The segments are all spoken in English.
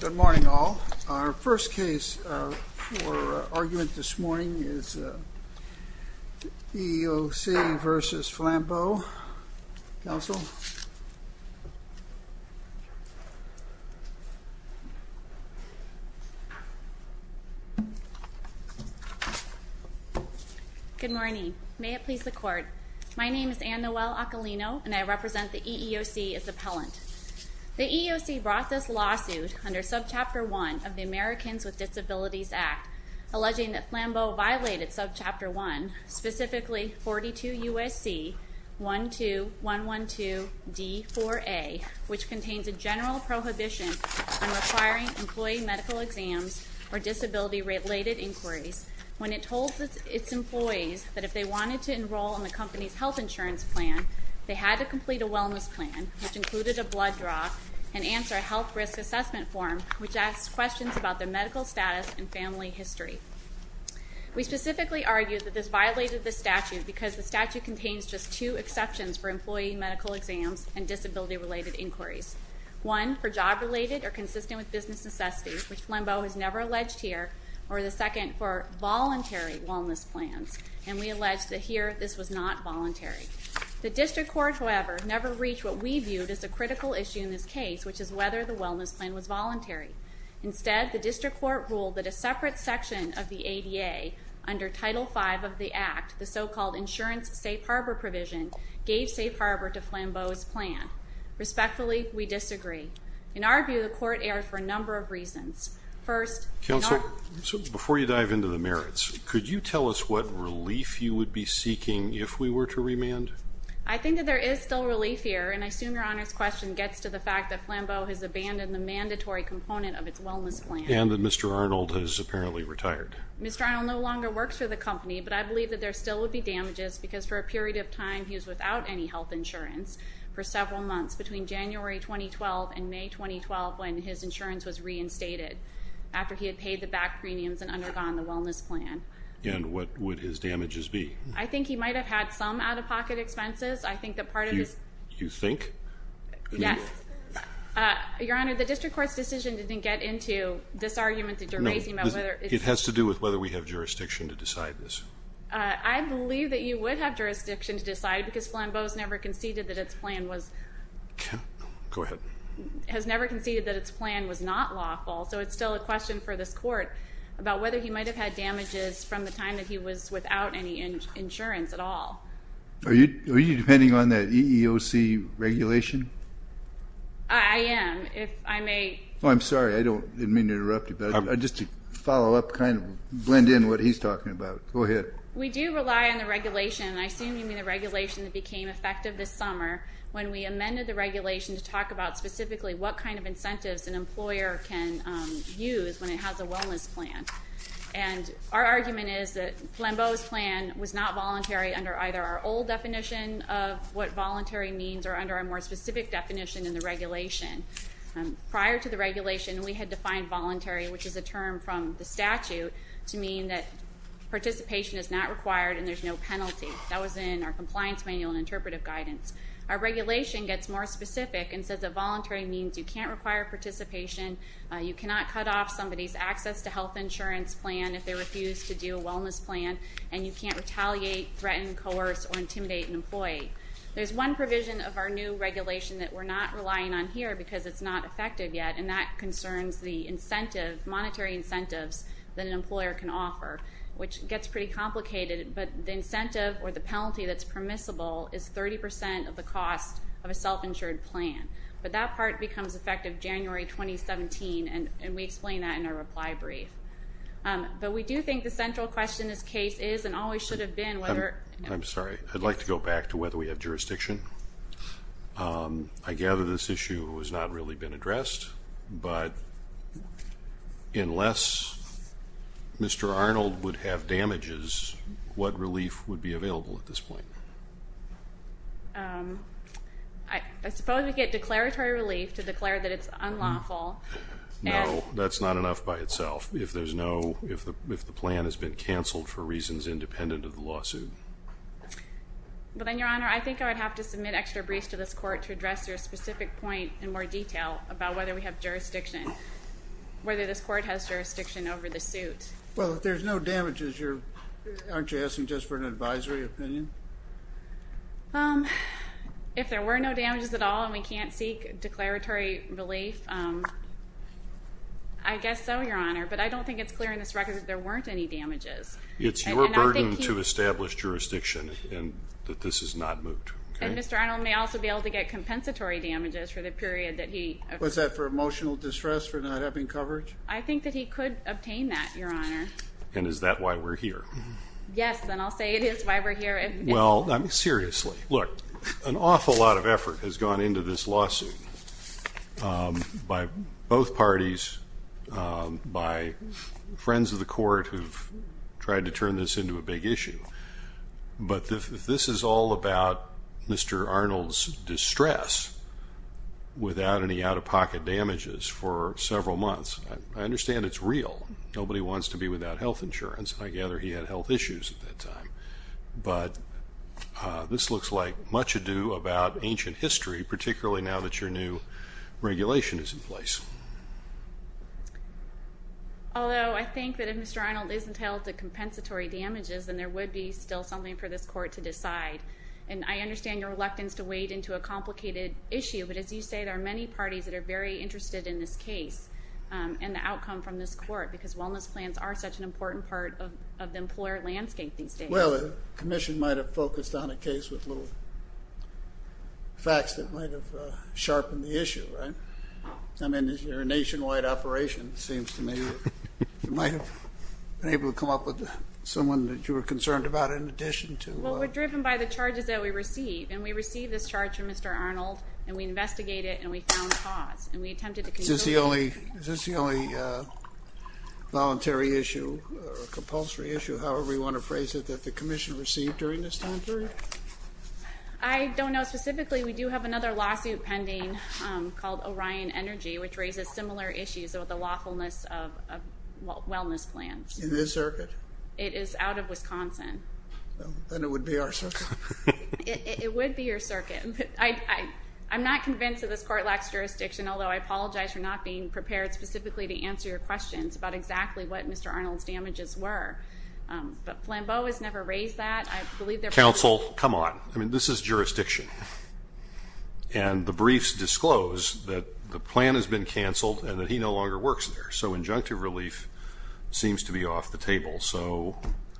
Good morning, all. Our first case for argument this morning is EEOC v. Flambeau. Counsel? Good morning. May it please the Court. My name is Anne-Noelle Acalino, and I represent the EEOC as appellant. The EEOC brought this lawsuit under Subchapter 1 of the Americans with Disabilities Act, alleging that Flambeau violated Subchapter 1, specifically 42 U.S.C. 12112-D4A, which contains a general prohibition on requiring employee medical exams or disability-related inquiries when it told its employees that if they wanted to enroll in the company's health insurance plan, they had to complete a wellness plan, which included a blood draw, and answer a health risk assessment form, which asked questions about their medical status and family history. We specifically argue that this violated the statute because the statute contains just two exceptions for employee medical exams and disability-related inquiries. One for job-related or consistent with business necessities, which Flambeau has never alleged here, or the second for voluntary wellness plans, and we allege that here, this was not voluntary. The District Court, however, never reached what we viewed as a critical issue in this case, which is whether the wellness plan was voluntary. Instead, the District Court ruled that a separate section of the ADA under Title V of the Act, the so-called insurance safe harbor provision, gave safe harbor to Flambeau's plan. Respectfully, we disagree. In our view, the Court erred for a number of reasons. First— So, before you dive into the merits, could you tell us what relief you would be seeking if we were to remand? I think that there is still relief here, and I assume Your Honor's question gets to the fact that Flambeau has abandoned the mandatory component of its wellness plan. And that Mr. Arnold has apparently retired. Mr. Arnold no longer works for the company, but I believe that there still would be damages because for a period of time, he was without any health insurance for several months between January 2012 and May 2012 when his insurance was reinstated. After he had paid the back premiums and undergone the wellness plan. And what would his damages be? I think he might have had some out-of-pocket expenses. I think that part of his— You think? Yes. Your Honor, the District Court's decision didn't get into this argument that you're raising about whether— No, it has to do with whether we have jurisdiction to decide this. I believe that you would have jurisdiction to decide because Flambeau has never conceded that its plan was— Go ahead. Has never conceded that its plan was not lawful. So it's still a question for this Court about whether he might have had damages from the time that he was without any insurance at all. Are you depending on the EEOC regulation? I am. If I may— I'm sorry. I didn't mean to interrupt you. Just to follow up, kind of blend in what he's talking about. Go ahead. We do rely on the regulation. And I assume you mean the regulation that became effective this summer when we amended the regulation to talk about specifically what kind of incentives an employer can use when it has a wellness plan. And our argument is that Flambeau's plan was not voluntary under either our old definition of what voluntary means or under our more specific definition in the regulation. Prior to the regulation, we had defined voluntary, which is a term from the statute, to mean that participation is not required and there's no penalty. That was in our compliance manual and interpretive guidance. Our regulation gets more specific and says that voluntary means you can't require participation, you cannot cut off somebody's access to health insurance plan if they refuse to do a wellness plan, and you can't retaliate, threaten, coerce, or intimidate an employee. There's one provision of our new regulation that we're not relying on here because it's not effective yet, and that concerns the incentive, monetary incentives that an employer can offer, which gets pretty complicated. But the incentive or the penalty that's permissible is 30% of the cost of a self-insured plan. But that part becomes effective January 2017, and we explain that in our reply brief. But we do think the central question in this case is and always should have been whether – I'm sorry, I'd like to go back to whether we have jurisdiction. I gather this issue has not really been addressed, but unless Mr. Arnold would have damages, what relief would be available at this point? I suppose we get declaratory relief to declare that it's unlawful. No, that's not enough by itself. If the plan has been canceled for reasons independent of the lawsuit. But then, Your Honor, I think I would have to submit extra briefs to this court to address your specific point in more detail about whether we have jurisdiction, whether this court has jurisdiction over the suit. Well, if there's no damages, aren't you asking just for an advisory opinion? If there were no damages at all and we can't seek declaratory relief, I guess so, Your Honor. But I don't think it's clear in this record that there weren't any damages. It's your burden to establish jurisdiction and that this is not moot. And Mr. Arnold may also be able to get compensatory damages for the period that he – Was that for emotional distress for not having coverage? I think that he could obtain that, Your Honor. And is that why we're here? Yes, and I'll say it is why we're here. Well, seriously, look, an awful lot of effort has gone into this lawsuit by both parties, by friends of the court who have tried to turn this into a big issue. But if this is all about Mr. Arnold's distress without any out-of-pocket damages for several months, I understand it's real. Nobody wants to be without health insurance. But this looks like much ado about ancient history, particularly now that your new regulation is in place. Although I think that if Mr. Arnold isn't held to compensatory damages, then there would be still something for this court to decide. And I understand your reluctance to wade into a complicated issue, but as you say, there are many parties that are very interested in this case and the outcome from this court because wellness plans are such an important part of the employer landscape these days. Well, the commission might have focused on a case with little facts that might have sharpened the issue, right? I mean, you're a nationwide operation, it seems to me. You might have been able to come up with someone that you were concerned about in addition to... Well, we're driven by the charges that we receive. And we received this charge from Mr. Arnold, and we investigated it, and we found cause. Is this the only voluntary issue or compulsory issue, however you want to phrase it, that the commission received during this time period? I don't know specifically. We do have another lawsuit pending called Orion Energy, which raises similar issues with the lawfulness of wellness plans. In this circuit? It is out of Wisconsin. Then it would be our circuit. It would be your circuit. I'm not convinced that this court lacks jurisdiction, although I apologize for not being prepared specifically to answer your questions about exactly what Mr. Arnold's damages were. But Flambeau has never raised that. Counsel, come on. I mean, this is jurisdiction. And the briefs disclose that the plan has been canceled and that he no longer works there. So injunctive relief seems to be off the table.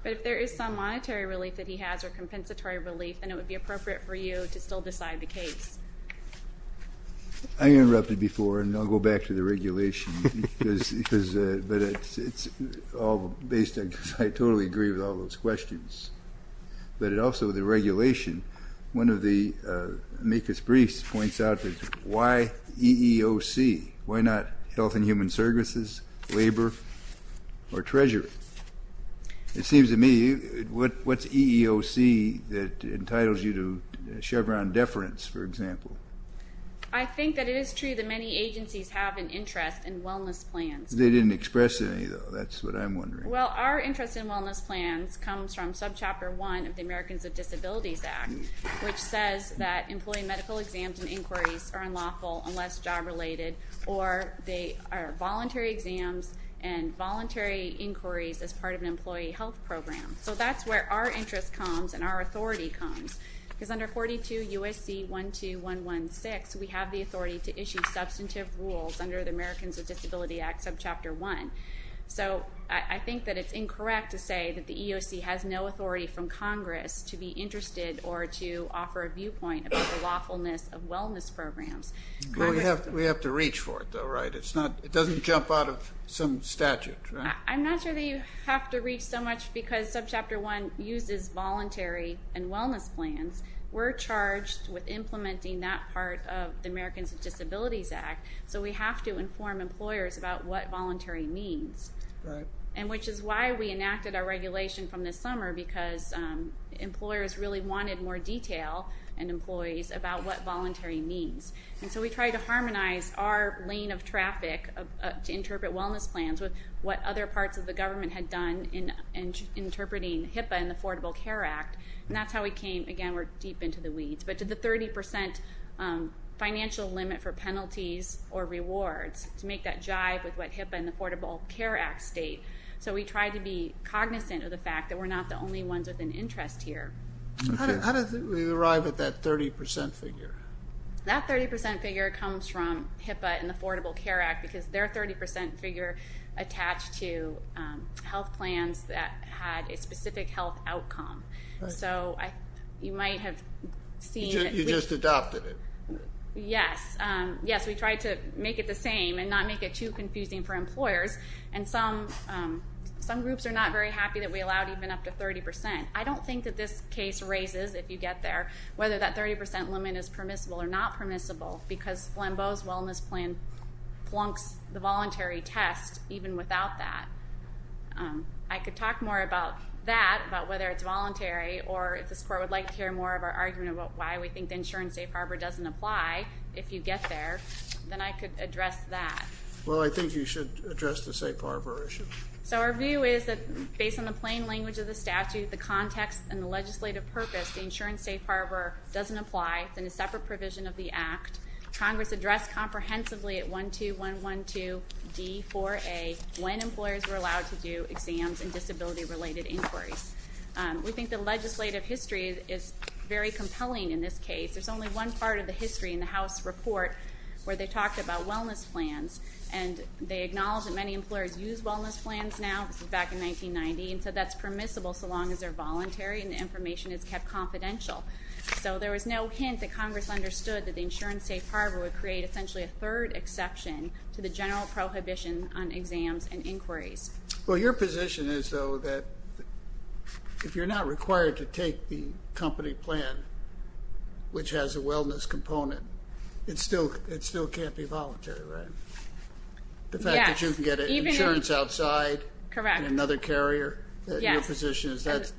But if there is some monetary relief that he has or compensatory relief, then it would be appropriate for you to still decide the case. I interrupted before, and I'll go back to the regulation. But it's all based on – I totally agree with all those questions. But also the regulation, one of the MECAS briefs points out that why EEOC? Why not Health and Human Services, Labor, or Treasury? It seems to me, what's EEOC that entitles you to Chevron deference, for example? I think that it is true that many agencies have an interest in wellness plans. They didn't express any, though. That's what I'm wondering. Well, our interest in wellness plans comes from subchapter 1 of the Americans with Disabilities Act, which says that employee medical exams and inquiries are unlawful unless job-related, or they are voluntary exams and voluntary inquiries as part of an employee health program. So that's where our interest comes and our authority comes. Because under 42 U.S.C. 12116, we have the authority to issue substantive rules under the Americans with Disabilities Act, subchapter 1. So I think that it's incorrect to say that the EEOC has no authority from Congress to be interested or to offer a viewpoint about the lawfulness of wellness programs. We have to reach for it, though, right? It doesn't jump out of some statute, right? I'm not sure that you have to reach so much because subchapter 1 uses voluntary and wellness plans. We're charged with implementing that part of the Americans with Disabilities Act, so we have to inform employers about what voluntary means, which is why we enacted our regulation from this summer, because employers really wanted more detail in employees about what voluntary means. And so we tried to harmonize our lane of traffic to interpret wellness plans with what other parts of the government had done in interpreting HIPAA and the Affordable Care Act. And that's how we came, again, we're deep into the weeds, but to the 30 percent financial limit for penalties or rewards to make that jive with what HIPAA and the Affordable Care Act state. So we tried to be cognizant of the fact that we're not the only ones with an interest here. How did we arrive at that 30 percent figure? That 30 percent figure comes from HIPAA and the Affordable Care Act because their 30 percent figure attached to health plans that had a specific health outcome. So you might have seen it. You just adopted it. Yes. Yes, we tried to make it the same and not make it too confusing for employers, and some groups are not very happy that we allowed even up to 30 percent. I don't think that this case raises, if you get there, whether that 30 percent limit is permissible or not permissible because Flambeau's wellness plan plunks the voluntary test even without that. I could talk more about that, about whether it's voluntary, or if this Court would like to hear more of our argument about why we think the insurance safe harbor doesn't apply, if you get there, then I could address that. Well, I think you should address the safe harbor issue. So our view is that, based on the plain language of the statute, the context and the legislative purpose, the insurance safe harbor doesn't apply. It's in a separate provision of the Act. Congress addressed comprehensively at 12112D4A when employers were allowed to do exams and disability-related inquiries. We think the legislative history is very compelling in this case. There's only one part of the history in the House report where they talked about wellness plans, and they acknowledged that many employers use wellness plans now, back in 1990, and said that's permissible so long as they're voluntary and the information is kept confidential. So there was no hint that Congress understood that the insurance safe harbor would create essentially a third exception to the general prohibition on exams and inquiries. Well, your position is, though, that if you're not required to take the company plan, which has a wellness component, it still can't be voluntary, right? Yes. The fact that you can get insurance outside. Correct. And another carrier. Yes. Your position is that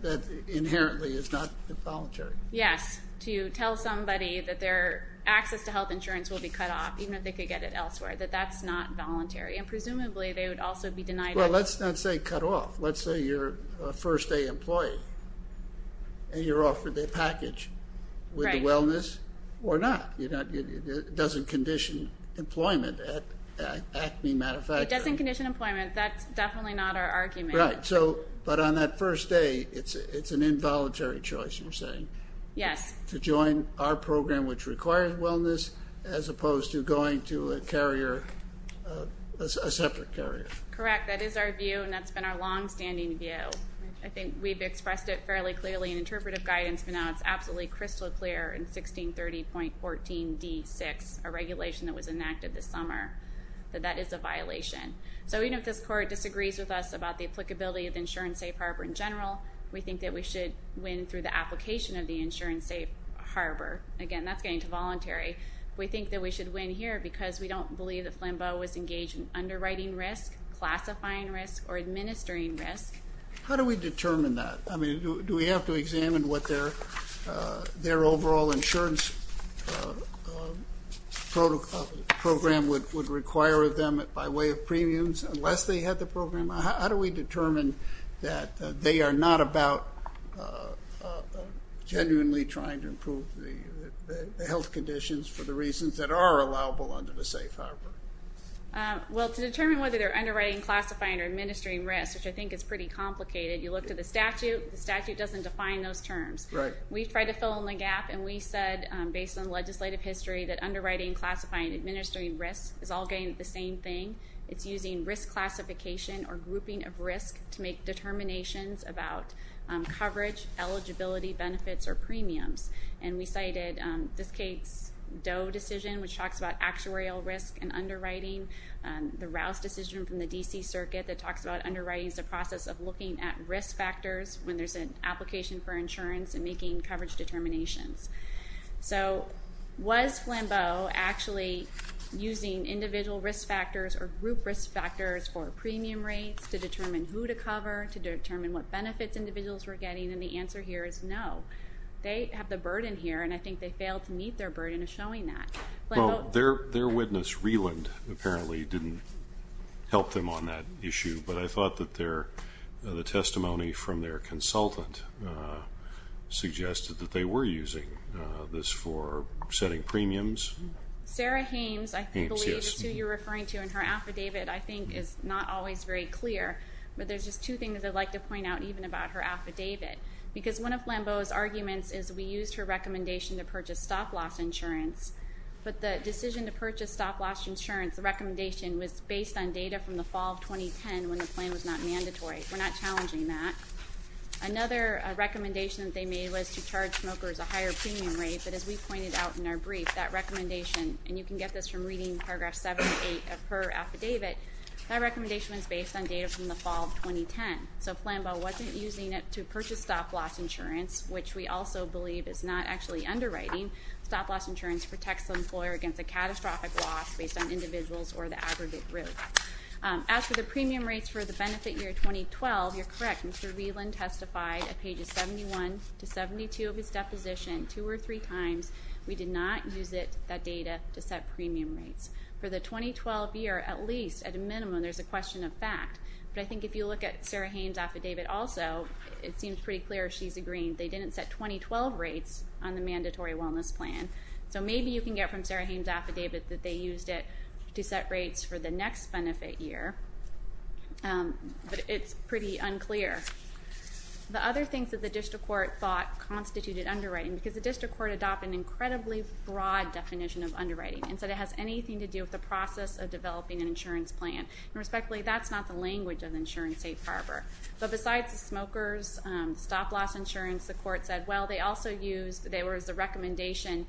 inherently is not voluntary. Yes. To tell somebody that their access to health insurance will be cut off, even if they could get it elsewhere, that that's not voluntary. And presumably they would also be denied it. Well, let's not say cut off. Let's say you're a first-day employee and you're offered a package with wellness or not. It doesn't condition employment at Acme Manufacturing. It doesn't condition employment. That's definitely not our argument. Right. But on that first day, it's an involuntary choice, you're saying. Yes. To join our program, which requires wellness, as opposed to going to a carrier, a separate carrier. Correct. In fact, that is our view, and that's been our longstanding view. I think we've expressed it fairly clearly in interpretive guidance, but now it's absolutely crystal clear in 1630.14d6, a regulation that was enacted this summer, that that is a violation. So even if this court disagrees with us about the applicability of Insurance Safe Harbor in general, we think that we should win through the application of the Insurance Safe Harbor. Again, that's getting to voluntary. We think that we should win here because we don't believe that Flambeau was engaged in underwriting risk, classifying risk, or administering risk. How do we determine that? I mean, do we have to examine what their overall insurance program would require of them by way of premiums, unless they had the program? How do we determine that they are not about genuinely trying to improve the health conditions for the reasons that are allowable under the Safe Harbor? Well, to determine whether they're underwriting, classifying, or administering risk, which I think is pretty complicated, you look at the statute, the statute doesn't define those terms. Right. We tried to fill in the gap, and we said, based on legislative history, that underwriting, classifying, and administering risk is all getting the same thing. It's using risk classification or grouping of risk to make determinations about coverage, eligibility, benefits, or premiums. And we cited this case, Doe decision, which talks about actuarial risk and underwriting. The Rouse decision from the D.C. Circuit that talks about underwriting as a process of looking at risk factors when there's an application for insurance and making coverage determinations. So was Flambeau actually using individual risk factors or group risk factors for premium rates to determine who to cover, to determine what benefits individuals were getting? And the answer here is no. They have the burden here, and I think they failed to meet their burden of showing that. Well, their witness, Reland, apparently didn't help them on that issue, but I thought that the testimony from their consultant suggested that they were using this for setting premiums. Sarah Hames, I believe, is who you're referring to, and her affidavit, I think, is not always very clear. But there's just two things I'd like to point out, even about her affidavit. Because one of Flambeau's arguments is we used her recommendation to purchase stop-loss insurance, but the decision to purchase stop-loss insurance, the recommendation was based on data from the fall of 2010 when the plan was not mandatory. We're not challenging that. Another recommendation that they made was to charge smokers a higher premium rate, but as we pointed out in our brief, that recommendation, and you can get this from reading Paragraph 7 and 8 of her affidavit, that recommendation was based on data from the fall of 2010. So Flambeau wasn't using it to purchase stop-loss insurance, which we also believe is not actually underwriting. Stop-loss insurance protects the employer against a catastrophic loss based on individuals or the aggregate group. As for the premium rates for the benefit year 2012, you're correct. Mr. Reland testified at pages 71 to 72 of his deposition two or three times. We did not use that data to set premium rates. For the 2012 year, at least, at a minimum, there's a question of fact. But I think if you look at Sarah Haines' affidavit also, it seems pretty clear she's agreeing. They didn't set 2012 rates on the mandatory wellness plan. So maybe you can get from Sarah Haines' affidavit that they used it to set rates for the next benefit year, but it's pretty unclear. The other things that the district court thought constituted underwriting, because the district court adopted an incredibly broad definition of underwriting and said it has anything to do with the process of developing an insurance plan. And respectfully, that's not the language of the insurance safe harbor. But besides the smokers, stop-loss insurance, the court said, well, they also used the recommendation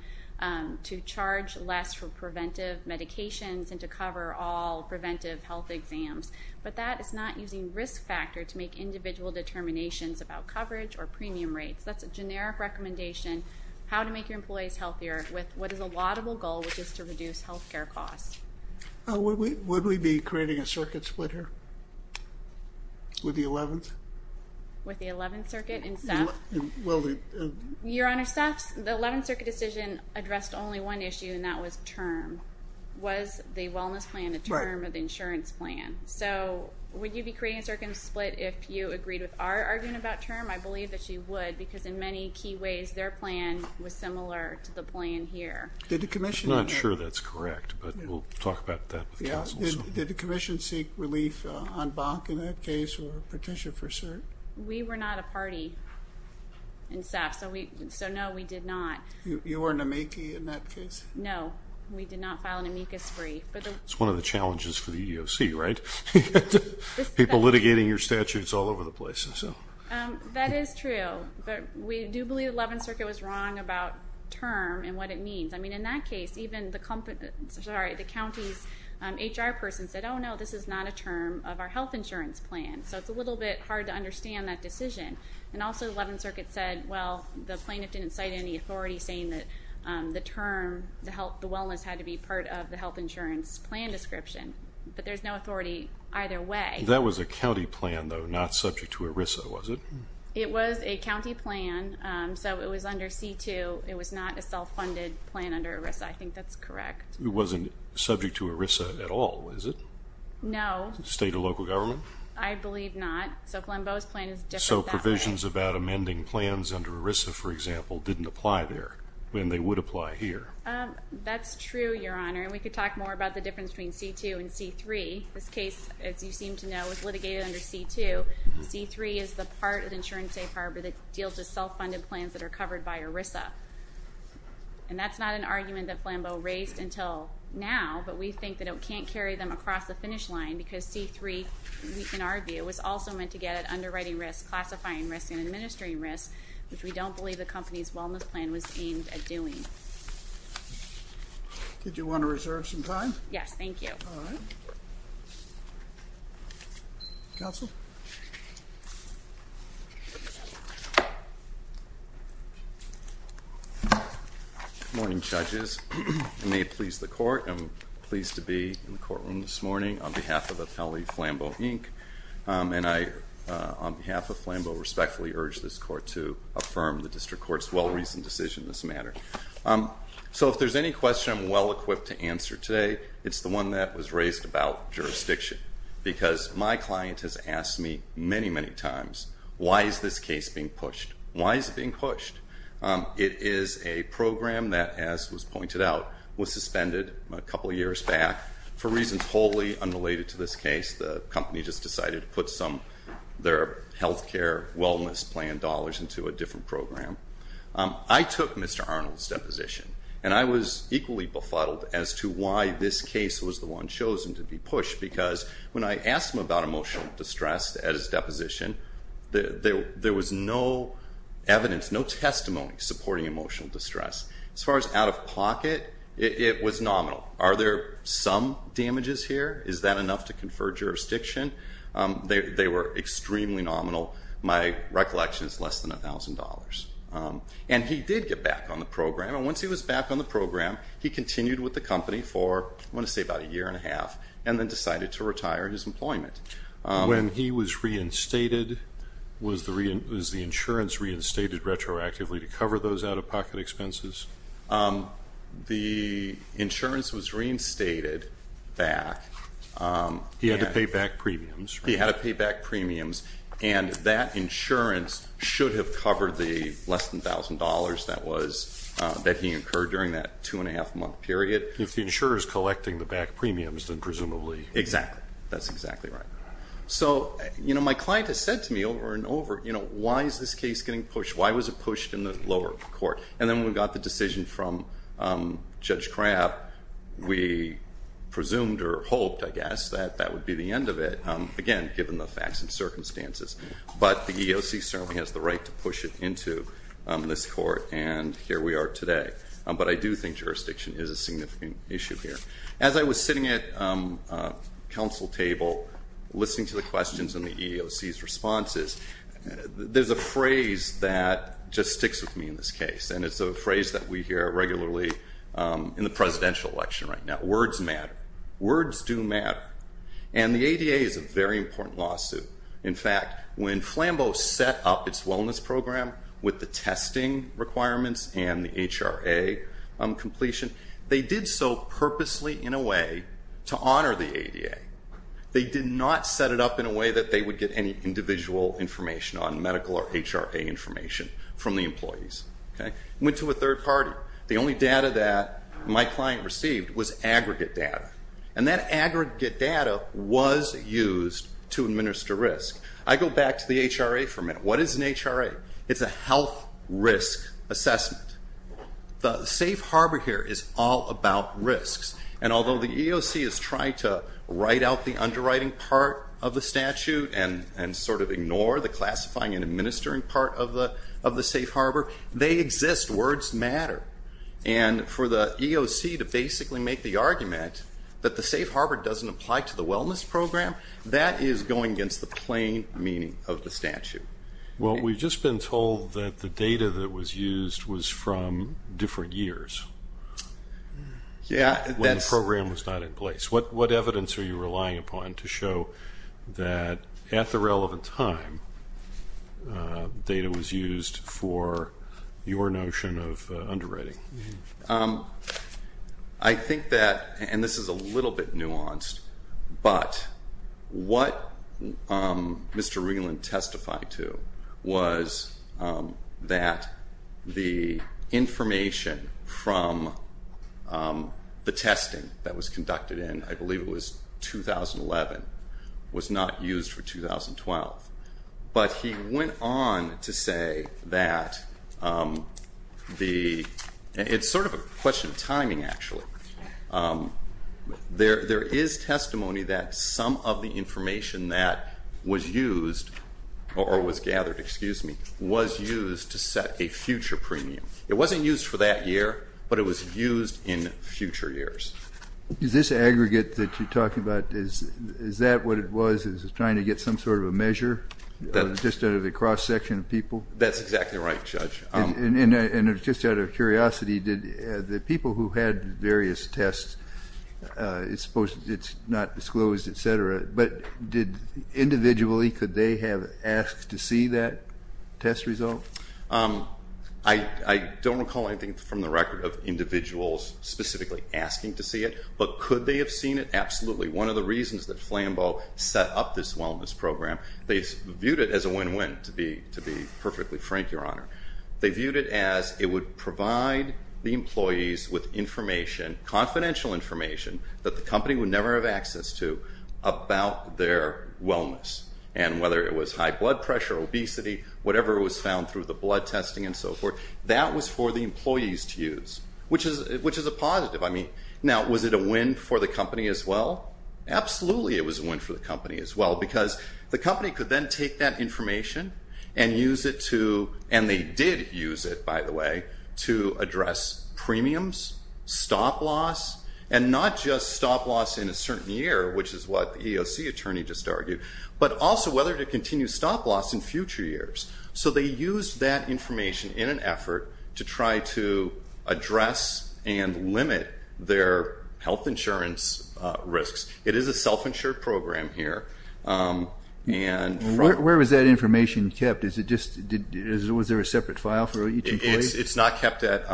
to charge less for preventive medications and to cover all preventive health exams. But that is not using risk factor to make individual determinations about coverage or premium rates. That's a generic recommendation, how to make your employees healthier, with what is a laudable goal, which is to reduce health care costs. Would we be creating a circuit split here with the 11th? With the 11th circuit? Your Honor, the 11th circuit decision addressed only one issue, and that was term. Was the wellness plan a term of the insurance plan? So would you be creating a circuit split if you agreed with our argument about term? I believe that you would because in many key ways their plan was similar to the plan here. I'm not sure that's correct, but we'll talk about that with counsel. Did the commission seek relief on bonk in that case or petition for cert? We were not a party in SAF, so no, we did not. You were an amici in that case? No, we did not file an amicus brief. It's one of the challenges for the EEOC, right? People litigating your statutes all over the place. That is true, but we do believe the 11th circuit was wrong about term and what it means. I mean, in that case, even the county's HR person said, oh, no, this is not a term of our health insurance plan. So it's a little bit hard to understand that decision. And also the 11th circuit said, well, the plaintiff didn't cite any authority saying that the term, the wellness had to be part of the health insurance plan description. But there's no authority either way. That was a county plan, though, not subject to ERISA, was it? It was a county plan, so it was under C-2. It was not a self-funded plan under ERISA. I think that's correct. It wasn't subject to ERISA at all, was it? No. State or local government? I believe not. So Glenbow's plan is different that way. So provisions about amending plans under ERISA, for example, didn't apply there, and they would apply here. That's true, Your Honor, and we could talk more about the difference between C-2 and C-3. This case, as you seem to know, was litigated under C-2. C-3 is the part of Insurance Safe Harbor that deals with self-funded plans that are covered by ERISA. And that's not an argument that Glenbow raised until now, but we think that it can't carry them across the finish line because C-3, we can argue, was also meant to get at underwriting risk, classifying risk, and administering risk, which we don't believe the company's wellness plan was aimed at doing. Yes, thank you. All right. Counsel? Good morning, judges. I may please the court. I'm pleased to be in the courtroom this morning on behalf of Appellee Flambeau, Inc., and I, on behalf of Flambeau, respectfully urge this court to affirm the district court's well-reasoned decision in this matter. So if there's any question I'm well-equipped to answer today, it's the one that was raised about jurisdiction, because my client has asked me many, many times, why is this case being pushed? Why is it being pushed? It is a program that, as was pointed out, was suspended a couple years back for reasons wholly unrelated to this case. The company just decided to put some of their health care wellness plan dollars into a different program. I took Mr. Arnold's deposition, and I was equally befuddled as to why this case was the one chosen to be pushed, because when I asked him about emotional distress at his deposition, there was no evidence, no testimony supporting emotional distress. As far as out-of-pocket, it was nominal. Are there some damages here? Is that enough to confer jurisdiction? They were extremely nominal. My recollection is less than $1,000. And he did get back on the program, and once he was back on the program he continued with the company for, I want to say about a year and a half, and then decided to retire his employment. When he was reinstated, was the insurance reinstated retroactively to cover those out-of-pocket expenses? The insurance was reinstated back. He had to pay back premiums. He had to pay back premiums, and that insurance should have covered the less than $1,000 that he incurred during that two-and-a-half-month period. If the insurer is collecting the back premiums, then presumably. Exactly. That's exactly right. So my client has said to me over and over, why is this case getting pushed? Why was it pushed in the lower court? And then when we got the decision from Judge Crapp, we presumed or hoped, I guess, that that would be the end of it, again, given the facts and circumstances. But the EEOC certainly has the right to push it into this court, and here we are today. But I do think jurisdiction is a significant issue here. As I was sitting at a council table listening to the questions and the EEOC's responses, there's a phrase that just sticks with me in this case, and it's a phrase that we hear regularly in the presidential election right now. Words matter. Words do matter. And the ADA is a very important lawsuit. In fact, when Flambeau set up its wellness program with the testing requirements and the HRA completion, they did so purposely in a way to honor the ADA. They did not set it up in a way that they would get any individual information on medical or HRA information from the employees. It went to a third party. The only data that my client received was aggregate data, and that aggregate data was used to administer risk. I go back to the HRA for a minute. What is an HRA? It's a health risk assessment. The safe harbor here is all about risks, and although the EEOC is trying to write out the underwriting part of the statute and sort of ignore the classifying and administering part of the safe harbor, they exist. Words matter. And for the EEOC to basically make the argument that the safe harbor doesn't apply to the wellness program, that is going against the plain meaning of the statute. Well, we've just been told that the data that was used was from different years. Yeah. When the program was not in place. What evidence are you relying upon to show that at the relevant time, data was used for your notion of underwriting? I think that, and this is a little bit nuanced, but what Mr. Reland testified to was that the information from the testing that was conducted in, I believe it was 2011, was not used for 2012. But he went on to say that the, it's sort of a question of timing, actually. There is testimony that some of the information that was used or was gathered, excuse me, was used to set a future premium. It wasn't used for that year, but it was used in future years. Is this aggregate that you're talking about, is that what it was? Is it trying to get some sort of a measure just out of the cross-section of people? That's exactly right, Judge. And just out of curiosity, did the people who had various tests, it's supposed it's not disclosed, et cetera, but did individually could they have asked to see that test result? I don't recall anything from the record of individuals specifically asking to see it, but could they have seen it? Absolutely. One of the reasons that Flambeau set up this wellness program, they viewed it as a win-win, to be perfectly frank, Your Honor. They viewed it as it would provide the employees with information, confidential information, that the company would never have access to about their wellness. And whether it was high blood pressure, obesity, whatever was found through the blood testing and so forth, that was for the employees to use, which is a positive. Now, was it a win for the company as well? Absolutely it was a win for the company as well, because the company could then take that information and use it to, and they did use it, by the way, to address premiums, stop-loss, and not just stop-loss in a certain year, which is what the EOC attorney just argued, but also whether to continue stop-loss in future years. So they used that information in an effort to try to address and limit their health insurance risks. It is a self-insured program here. Where was that information kept? Was there a separate file for each employee? It's not kept at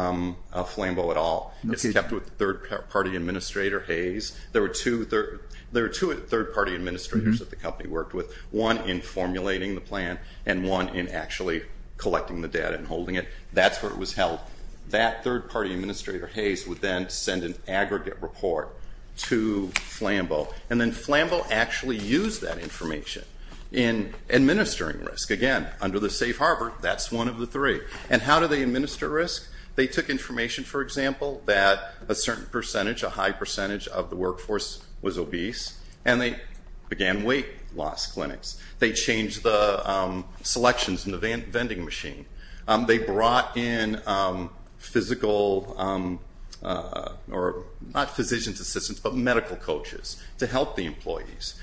Flambeau at all. It's kept with the third-party administrator, Hayes. There were two third-party administrators that the company worked with, one in formulating the plan and one in actually collecting the data and holding it. That's where it was held. That third-party administrator, Hayes, would then send an aggregate report to Flambeau, and then Flambeau actually used that information in administering risk. Again, under the safe harbor, that's one of the three. And how do they administer risk? They took information, for example, that a certain percentage, a high percentage of the workforce was obese, and they began weight loss clinics. They changed the selections in the vending machine. They brought in physical, or not physician's assistants, but medical coaches to help the employees.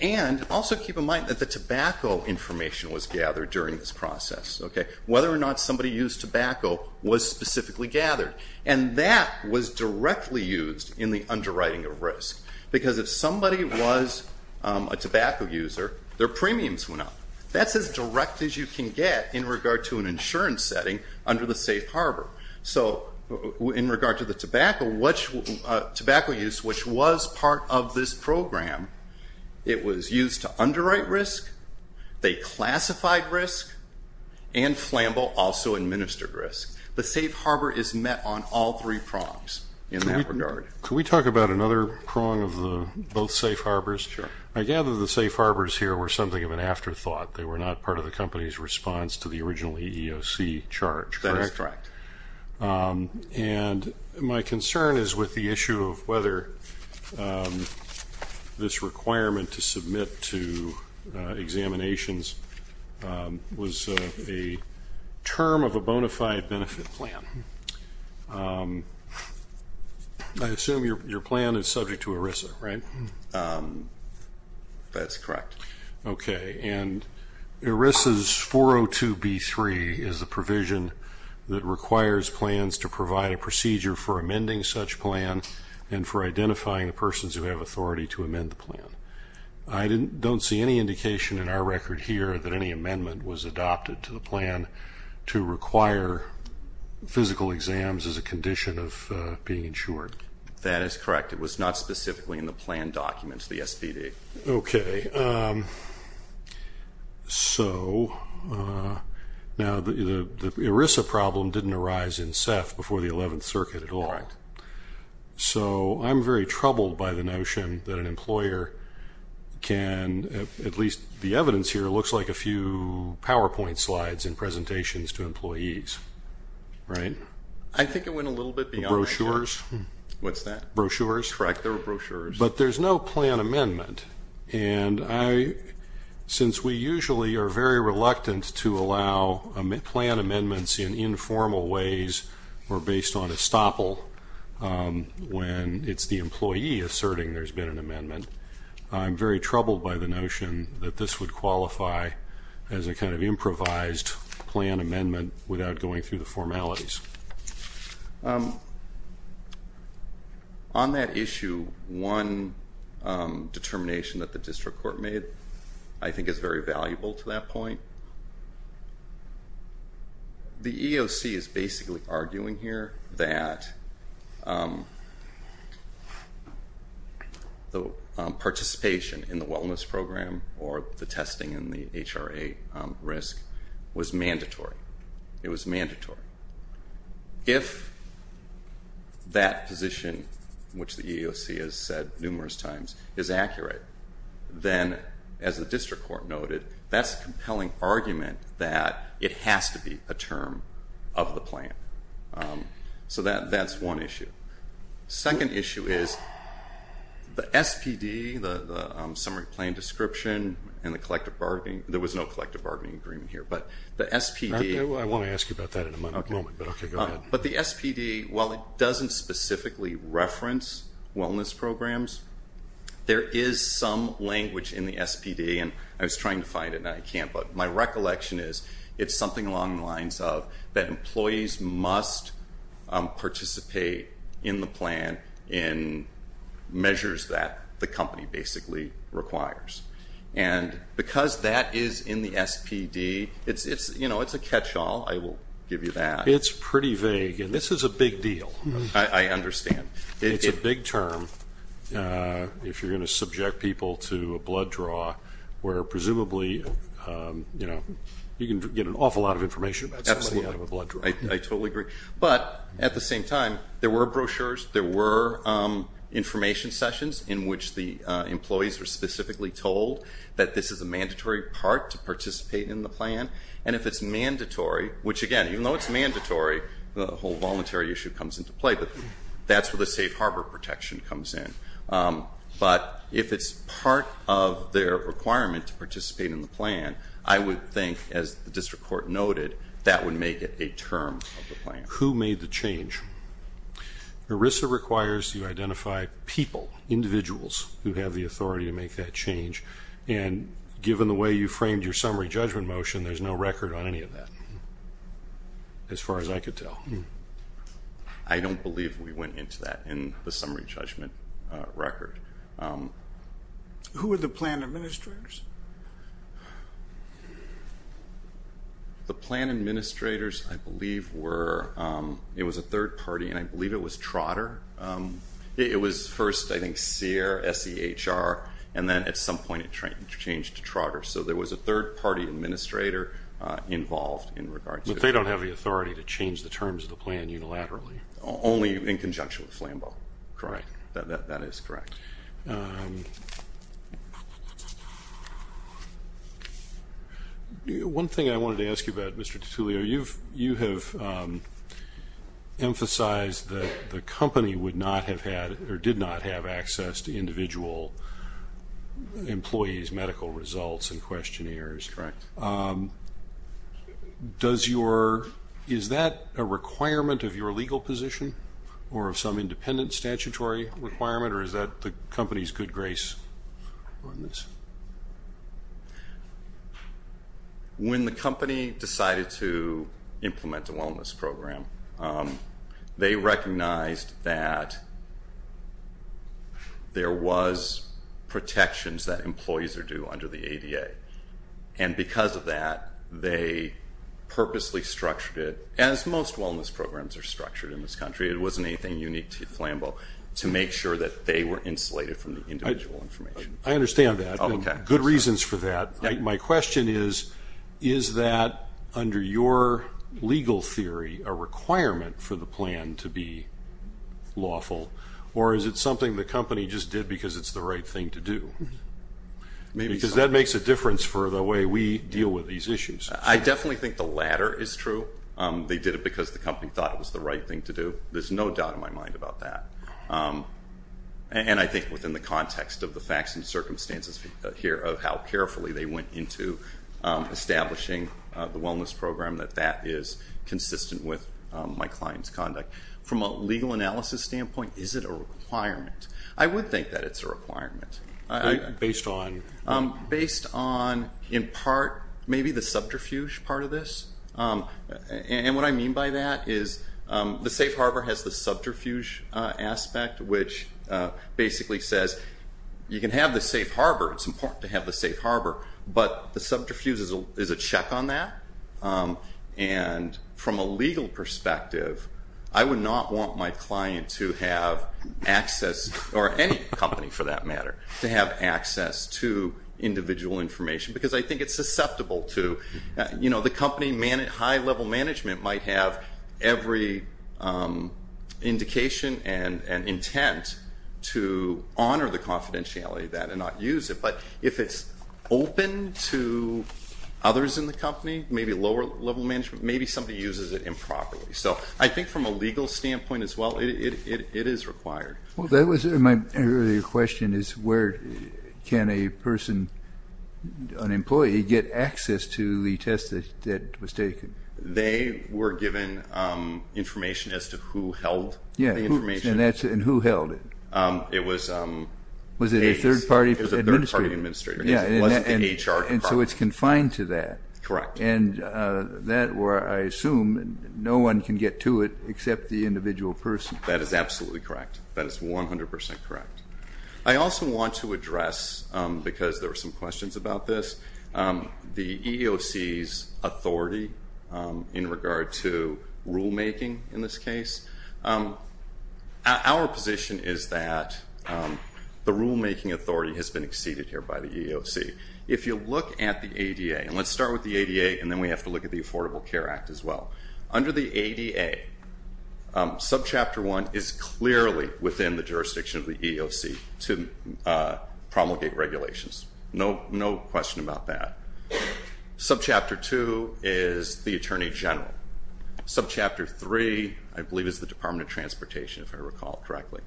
And also keep in mind that the tobacco information was gathered during this process. Whether or not somebody used tobacco was specifically gathered, and that was directly used in the underwriting of risk. Because if somebody was a tobacco user, their premiums went up. That's as direct as you can get in regard to an insurance setting under the safe harbor. So in regard to the tobacco use, which was part of this program, it was used to underwrite risk, they classified risk, and Flambeau also administered risk. The safe harbor is met on all three prongs in that regard. Can we talk about another prong of both safe harbors? Sure. I gather the safe harbors here were something of an afterthought. They were not part of the company's response to the original EEOC charge, correct? That is correct. And my concern is with the issue of whether this requirement to submit to examinations was a term of a bona fide benefit plan. I assume your plan is subject to ERISA, right? That's correct. Okay. And ERISA's 402B3 is a provision that requires plans to provide a procedure for amending such plan and for identifying the persons who have authority to amend the plan. I don't see any indication in our record here that any amendment was adopted to the plan to require physical exams as a condition of being insured. That is correct. It was not specifically in the plan documents, the SBD. Okay. So now the ERISA problem didn't arise in SEF before the 11th Circuit at all. Correct. So I'm very troubled by the notion that an employer can, at least the evidence here, looks like a few PowerPoint slides and presentations to employees, right? I think it went a little bit beyond that. Brochures? What's that? Brochures? Correct. They were brochures. But there's no plan amendment, and since we usually are very reluctant to allow plan amendments in informal ways or based on estoppel when it's the employee asserting there's been an amendment, I'm very troubled by the notion that this would qualify as a kind of improvised plan amendment without going through the formalities. On that issue, one determination that the district court made I think is very valuable to that point. The EOC is basically arguing here that the participation in the wellness program or the testing and the HRA risk was mandatory. It was mandatory. If that position, which the EOC has said numerous times, is accurate, then as the district court noted, that's a compelling argument that it has to be a term of the plan. So that's one issue. Second issue is the SPD, the summary plan description, and the collective bargaining. I want to ask you about that in a moment, but okay, go ahead. But the SPD, while it doesn't specifically reference wellness programs, there is some language in the SPD, and I was trying to find it and I can't, but my recollection is it's something along the lines of that employees must participate in the plan in measures that the company basically requires. And because that is in the SPD, it's a catch-all, I will give you that. It's pretty vague, and this is a big deal. I understand. It's a big term if you're going to subject people to a blood draw, where presumably you can get an awful lot of information about somebody out of a blood draw. I totally agree. But at the same time, there were brochures, there were information sessions in which the employees were specifically told that this is a mandatory part to participate in the plan, and if it's mandatory, which, again, even though it's mandatory, the whole voluntary issue comes into play, but that's where the safe harbor protection comes in. But if it's part of their requirement to participate in the plan, I would think, as the district court noted, that would make it a term of the plan. Who made the change? ERISA requires you identify people, individuals, who have the authority to make that change, and given the way you framed your summary judgment motion, there's no record on any of that, as far as I could tell. I don't believe we went into that in the summary judgment record. Who were the plan administrators? The plan administrators, I believe, were a third party, and I believe it was Trotter. It was first, I think, SEHR, S-E-H-R, and then at some point it changed to Trotter. So there was a third party administrator involved in regard to it. But they don't have the authority to change the terms of the plan unilaterally. Only in conjunction with Flambeau. Correct. That is correct. Thank you. One thing I wanted to ask you about, Mr. Titullio, you have emphasized that the company would not have had or did not have access to individual employees' medical results and questionnaires. Correct. Is that a requirement of your legal position or of some independent statutory requirement, or is that the company's good grace on this? When the company decided to implement a wellness program, they recognized that there was protections that employees are due under the ADA. And because of that, they purposely structured it, as most wellness programs are structured in this country, it wasn't anything unique to Flambeau, to make sure that they were insulated from the individual information. I understand that. Okay. Good reasons for that. My question is, is that, under your legal theory, a requirement for the plan to be lawful, or is it something the company just did because it's the right thing to do? Because that makes a difference for the way we deal with these issues. I definitely think the latter is true. They did it because the company thought it was the right thing to do. There's no doubt in my mind about that. And I think within the context of the facts and circumstances here of how carefully they went into establishing the wellness program, that that is consistent with my client's conduct. From a legal analysis standpoint, is it a requirement? I would think that it's a requirement. Based on? Based on, in part, maybe the subterfuge part of this. And what I mean by that is the safe harbor has the subterfuge aspect, which basically says you can have the safe harbor. It's important to have the safe harbor. But the subterfuge is a check on that. And from a legal perspective, I would not want my client to have access, or any company for that matter, to have access to individual information because I think it's susceptible to. You know, the company, high-level management might have every indication and intent to honor the confidentiality of that and not use it. But if it's open to others in the company, maybe lower-level management, maybe somebody uses it improperly. So I think from a legal standpoint as well, it is required. Well, my earlier question is where can a person, an employee, get access to the test that was taken? They were given information as to who held the information. And who held it? It was a third-party administrator. It was the HR department. And so it's confined to that. Correct. And that where I assume no one can get to it except the individual person. That is absolutely correct. That is 100% correct. I also want to address, because there were some questions about this, the EEOC's authority in regard to rulemaking in this case. Our position is that the rulemaking authority has been exceeded here by the EEOC. If you look at the ADA, and let's start with the ADA, and then we have to look at the Affordable Care Act as well. Under the ADA, Subchapter 1 is clearly within the jurisdiction of the EEOC to promulgate regulations. No question about that. Subchapter 2 is the Attorney General. Subchapter 3, I believe, is the Department of Transportation, if I recall correctly.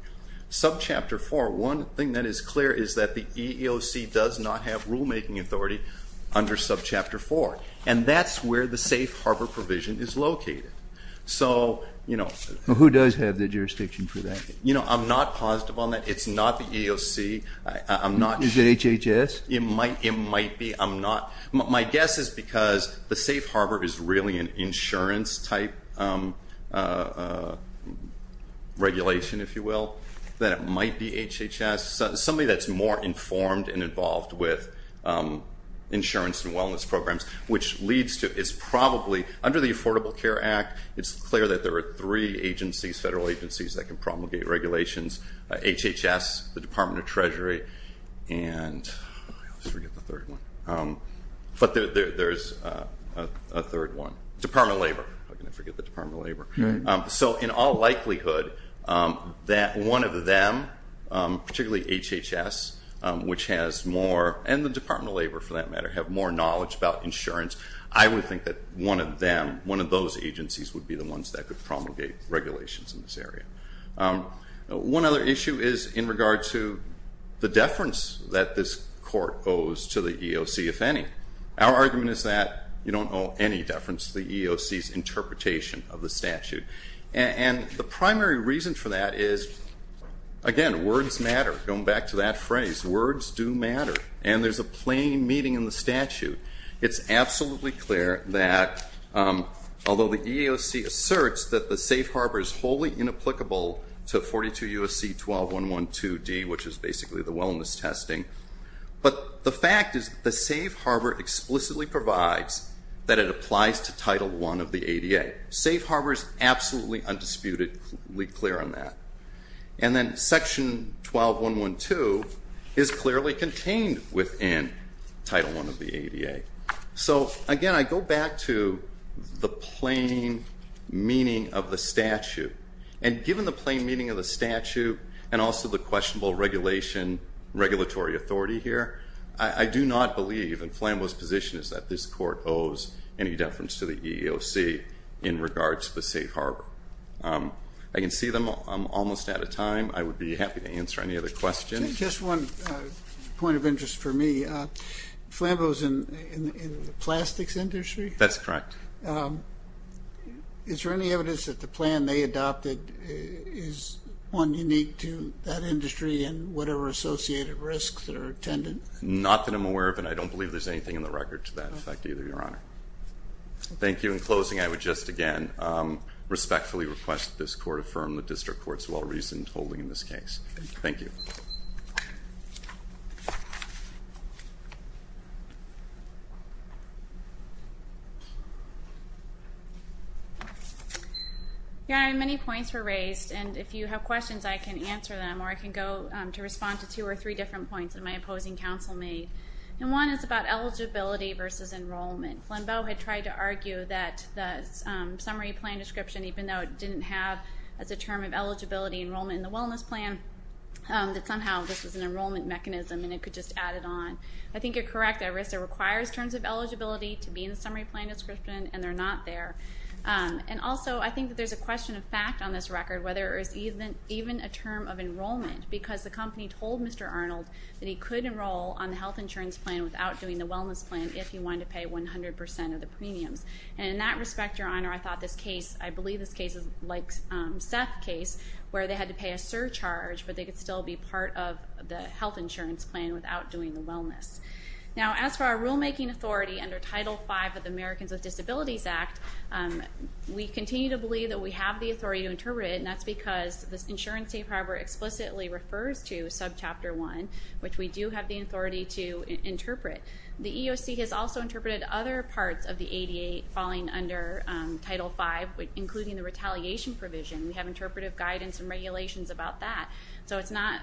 Subchapter 4, one thing that is clear is that the EEOC does not have rulemaking authority under Subchapter 4. And that's where the safe harbor provision is located. Who does have the jurisdiction for that? I'm not positive on that. It's not the EEOC. Is it HHS? It might be. My guess is because the safe harbor is really an insurance type regulation, if you will, that it might be HHS. Somebody that's more informed and involved with insurance and wellness programs, which leads to, is probably, under the Affordable Care Act, it's clear that there are three agencies, federal agencies, that can promulgate regulations. HHS, the Department of Treasury, and I always forget the third one. But there's a third one. Department of Labor. How can I forget the Department of Labor? So, in all likelihood, that one of them, particularly HHS, which has more, and the Department of Labor, for that matter, have more knowledge about insurance, I would think that one of them, one of those agencies, would be the ones that could promulgate regulations in this area. One other issue is in regard to the deference that this court owes to the EEOC, if any. Our argument is that you don't owe any deference to the EEOC's interpretation of the statute. And the primary reason for that is, again, words matter. Going back to that phrase, words do matter. And there's a plain meaning in the statute. It's absolutely clear that, although the EEOC asserts that the safe harbor is wholly inapplicable to 42 U.S.C. 12-112-D, which is basically the wellness testing, but the fact is the safe harbor explicitly provides that it applies to Title I of the ADA. Safe harbor is absolutely undisputedly clear on that. And then Section 12-112 is clearly contained within Title I of the ADA. So, again, I go back to the plain meaning of the statute. And given the plain meaning of the statute and also the questionable regulatory authority here, I do not believe in Flambeau's position is that this court owes any deference to the EEOC in regards to the safe harbor. I can see I'm almost out of time. I would be happy to answer any other questions. Just one point of interest for me. Flambeau's in the plastics industry? That's correct. Is there any evidence that the plan they adopted is one unique to that industry and whatever associated risks that are attended? Not that I'm aware of, and I don't believe there's anything in the record to that effect either, Your Honor. Thank you. In closing, I would just again respectfully request that this court affirm the district court's well-reasoned holding in this case. Thank you. Your Honor, many points were raised, and if you have questions I can answer them or I can go to respond to two or three different points that my opposing counsel made. And one is about eligibility versus enrollment. Flambeau had tried to argue that the summary plan description, even though it didn't have as a term of eligibility enrollment in the wellness plan, that somehow this was an enrollment mechanism and it could just add it on. I think you're correct. ERISA requires terms of eligibility to be in the summary plan description, and they're not there. And also, I think that there's a question of fact on this record, whether it was even a term of enrollment, because the company told Mr. Arnold that he could enroll on the health insurance plan without doing the wellness plan if he wanted to pay 100% of the premiums. And in that respect, Your Honor, I thought this case, I believe this case is like Seth's case, where they had to pay a surcharge, but they could still be part of the health insurance plan without doing the wellness. Now, as for our rulemaking authority under Title V of the Americans with Disabilities Act, we continue to believe that we have the authority to interpret it, and that's because the insurance safe harbor explicitly refers to Subchapter 1, which we do have the authority to interpret. The EEOC has also interpreted other parts of the ADA falling under Title V, including the retaliation provision. We have interpretive guidance and regulations about that. So it's not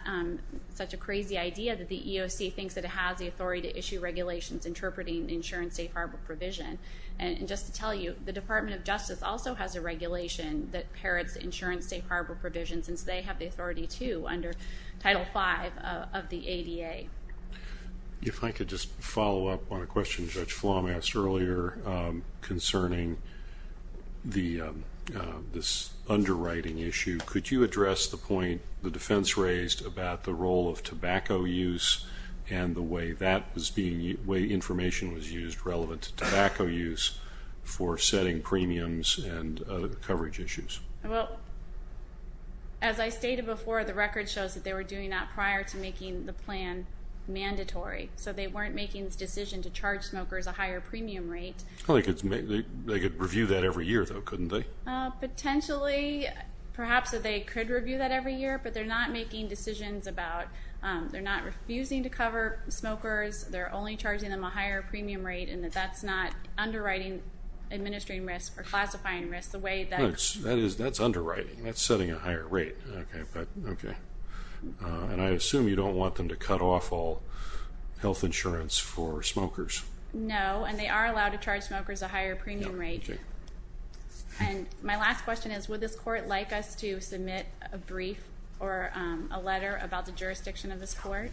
such a crazy idea that the EEOC thinks that it has the authority to issue regulations interpreting the insurance safe harbor provision. And just to tell you, the Department of Justice also has a regulation that parrots the insurance safe harbor provision, since they have the authority, too, under Title V of the ADA. If I could just follow up on a question Judge Flom asked earlier concerning this underwriting issue, could you address the point the defense raised about the role of tobacco use and the way information was used relevant to tobacco use for setting premiums and coverage issues? Well, as I stated before, the record shows that they were doing that prior to making the plan mandatory, so they weren't making the decision to charge smokers a higher premium rate. They could review that every year, though, couldn't they? Potentially. Perhaps that they could review that every year, but they're not making decisions about they're not refusing to cover smokers, they're only charging them a higher premium rate, and that that's not underwriting, administering risk, or classifying risk. That's underwriting. That's setting a higher rate. And I assume you don't want them to cut off all health insurance for smokers. No, and they are allowed to charge smokers a higher premium rate. And my last question is, would this court like us to submit a brief or a letter about the jurisdiction of this court?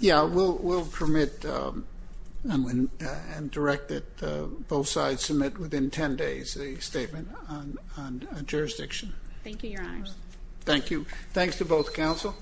Yeah, we'll permit and direct that both sides submit within 10 days a statement on jurisdiction. Thank you, Your Honors. Thank you. Thanks to both counsel.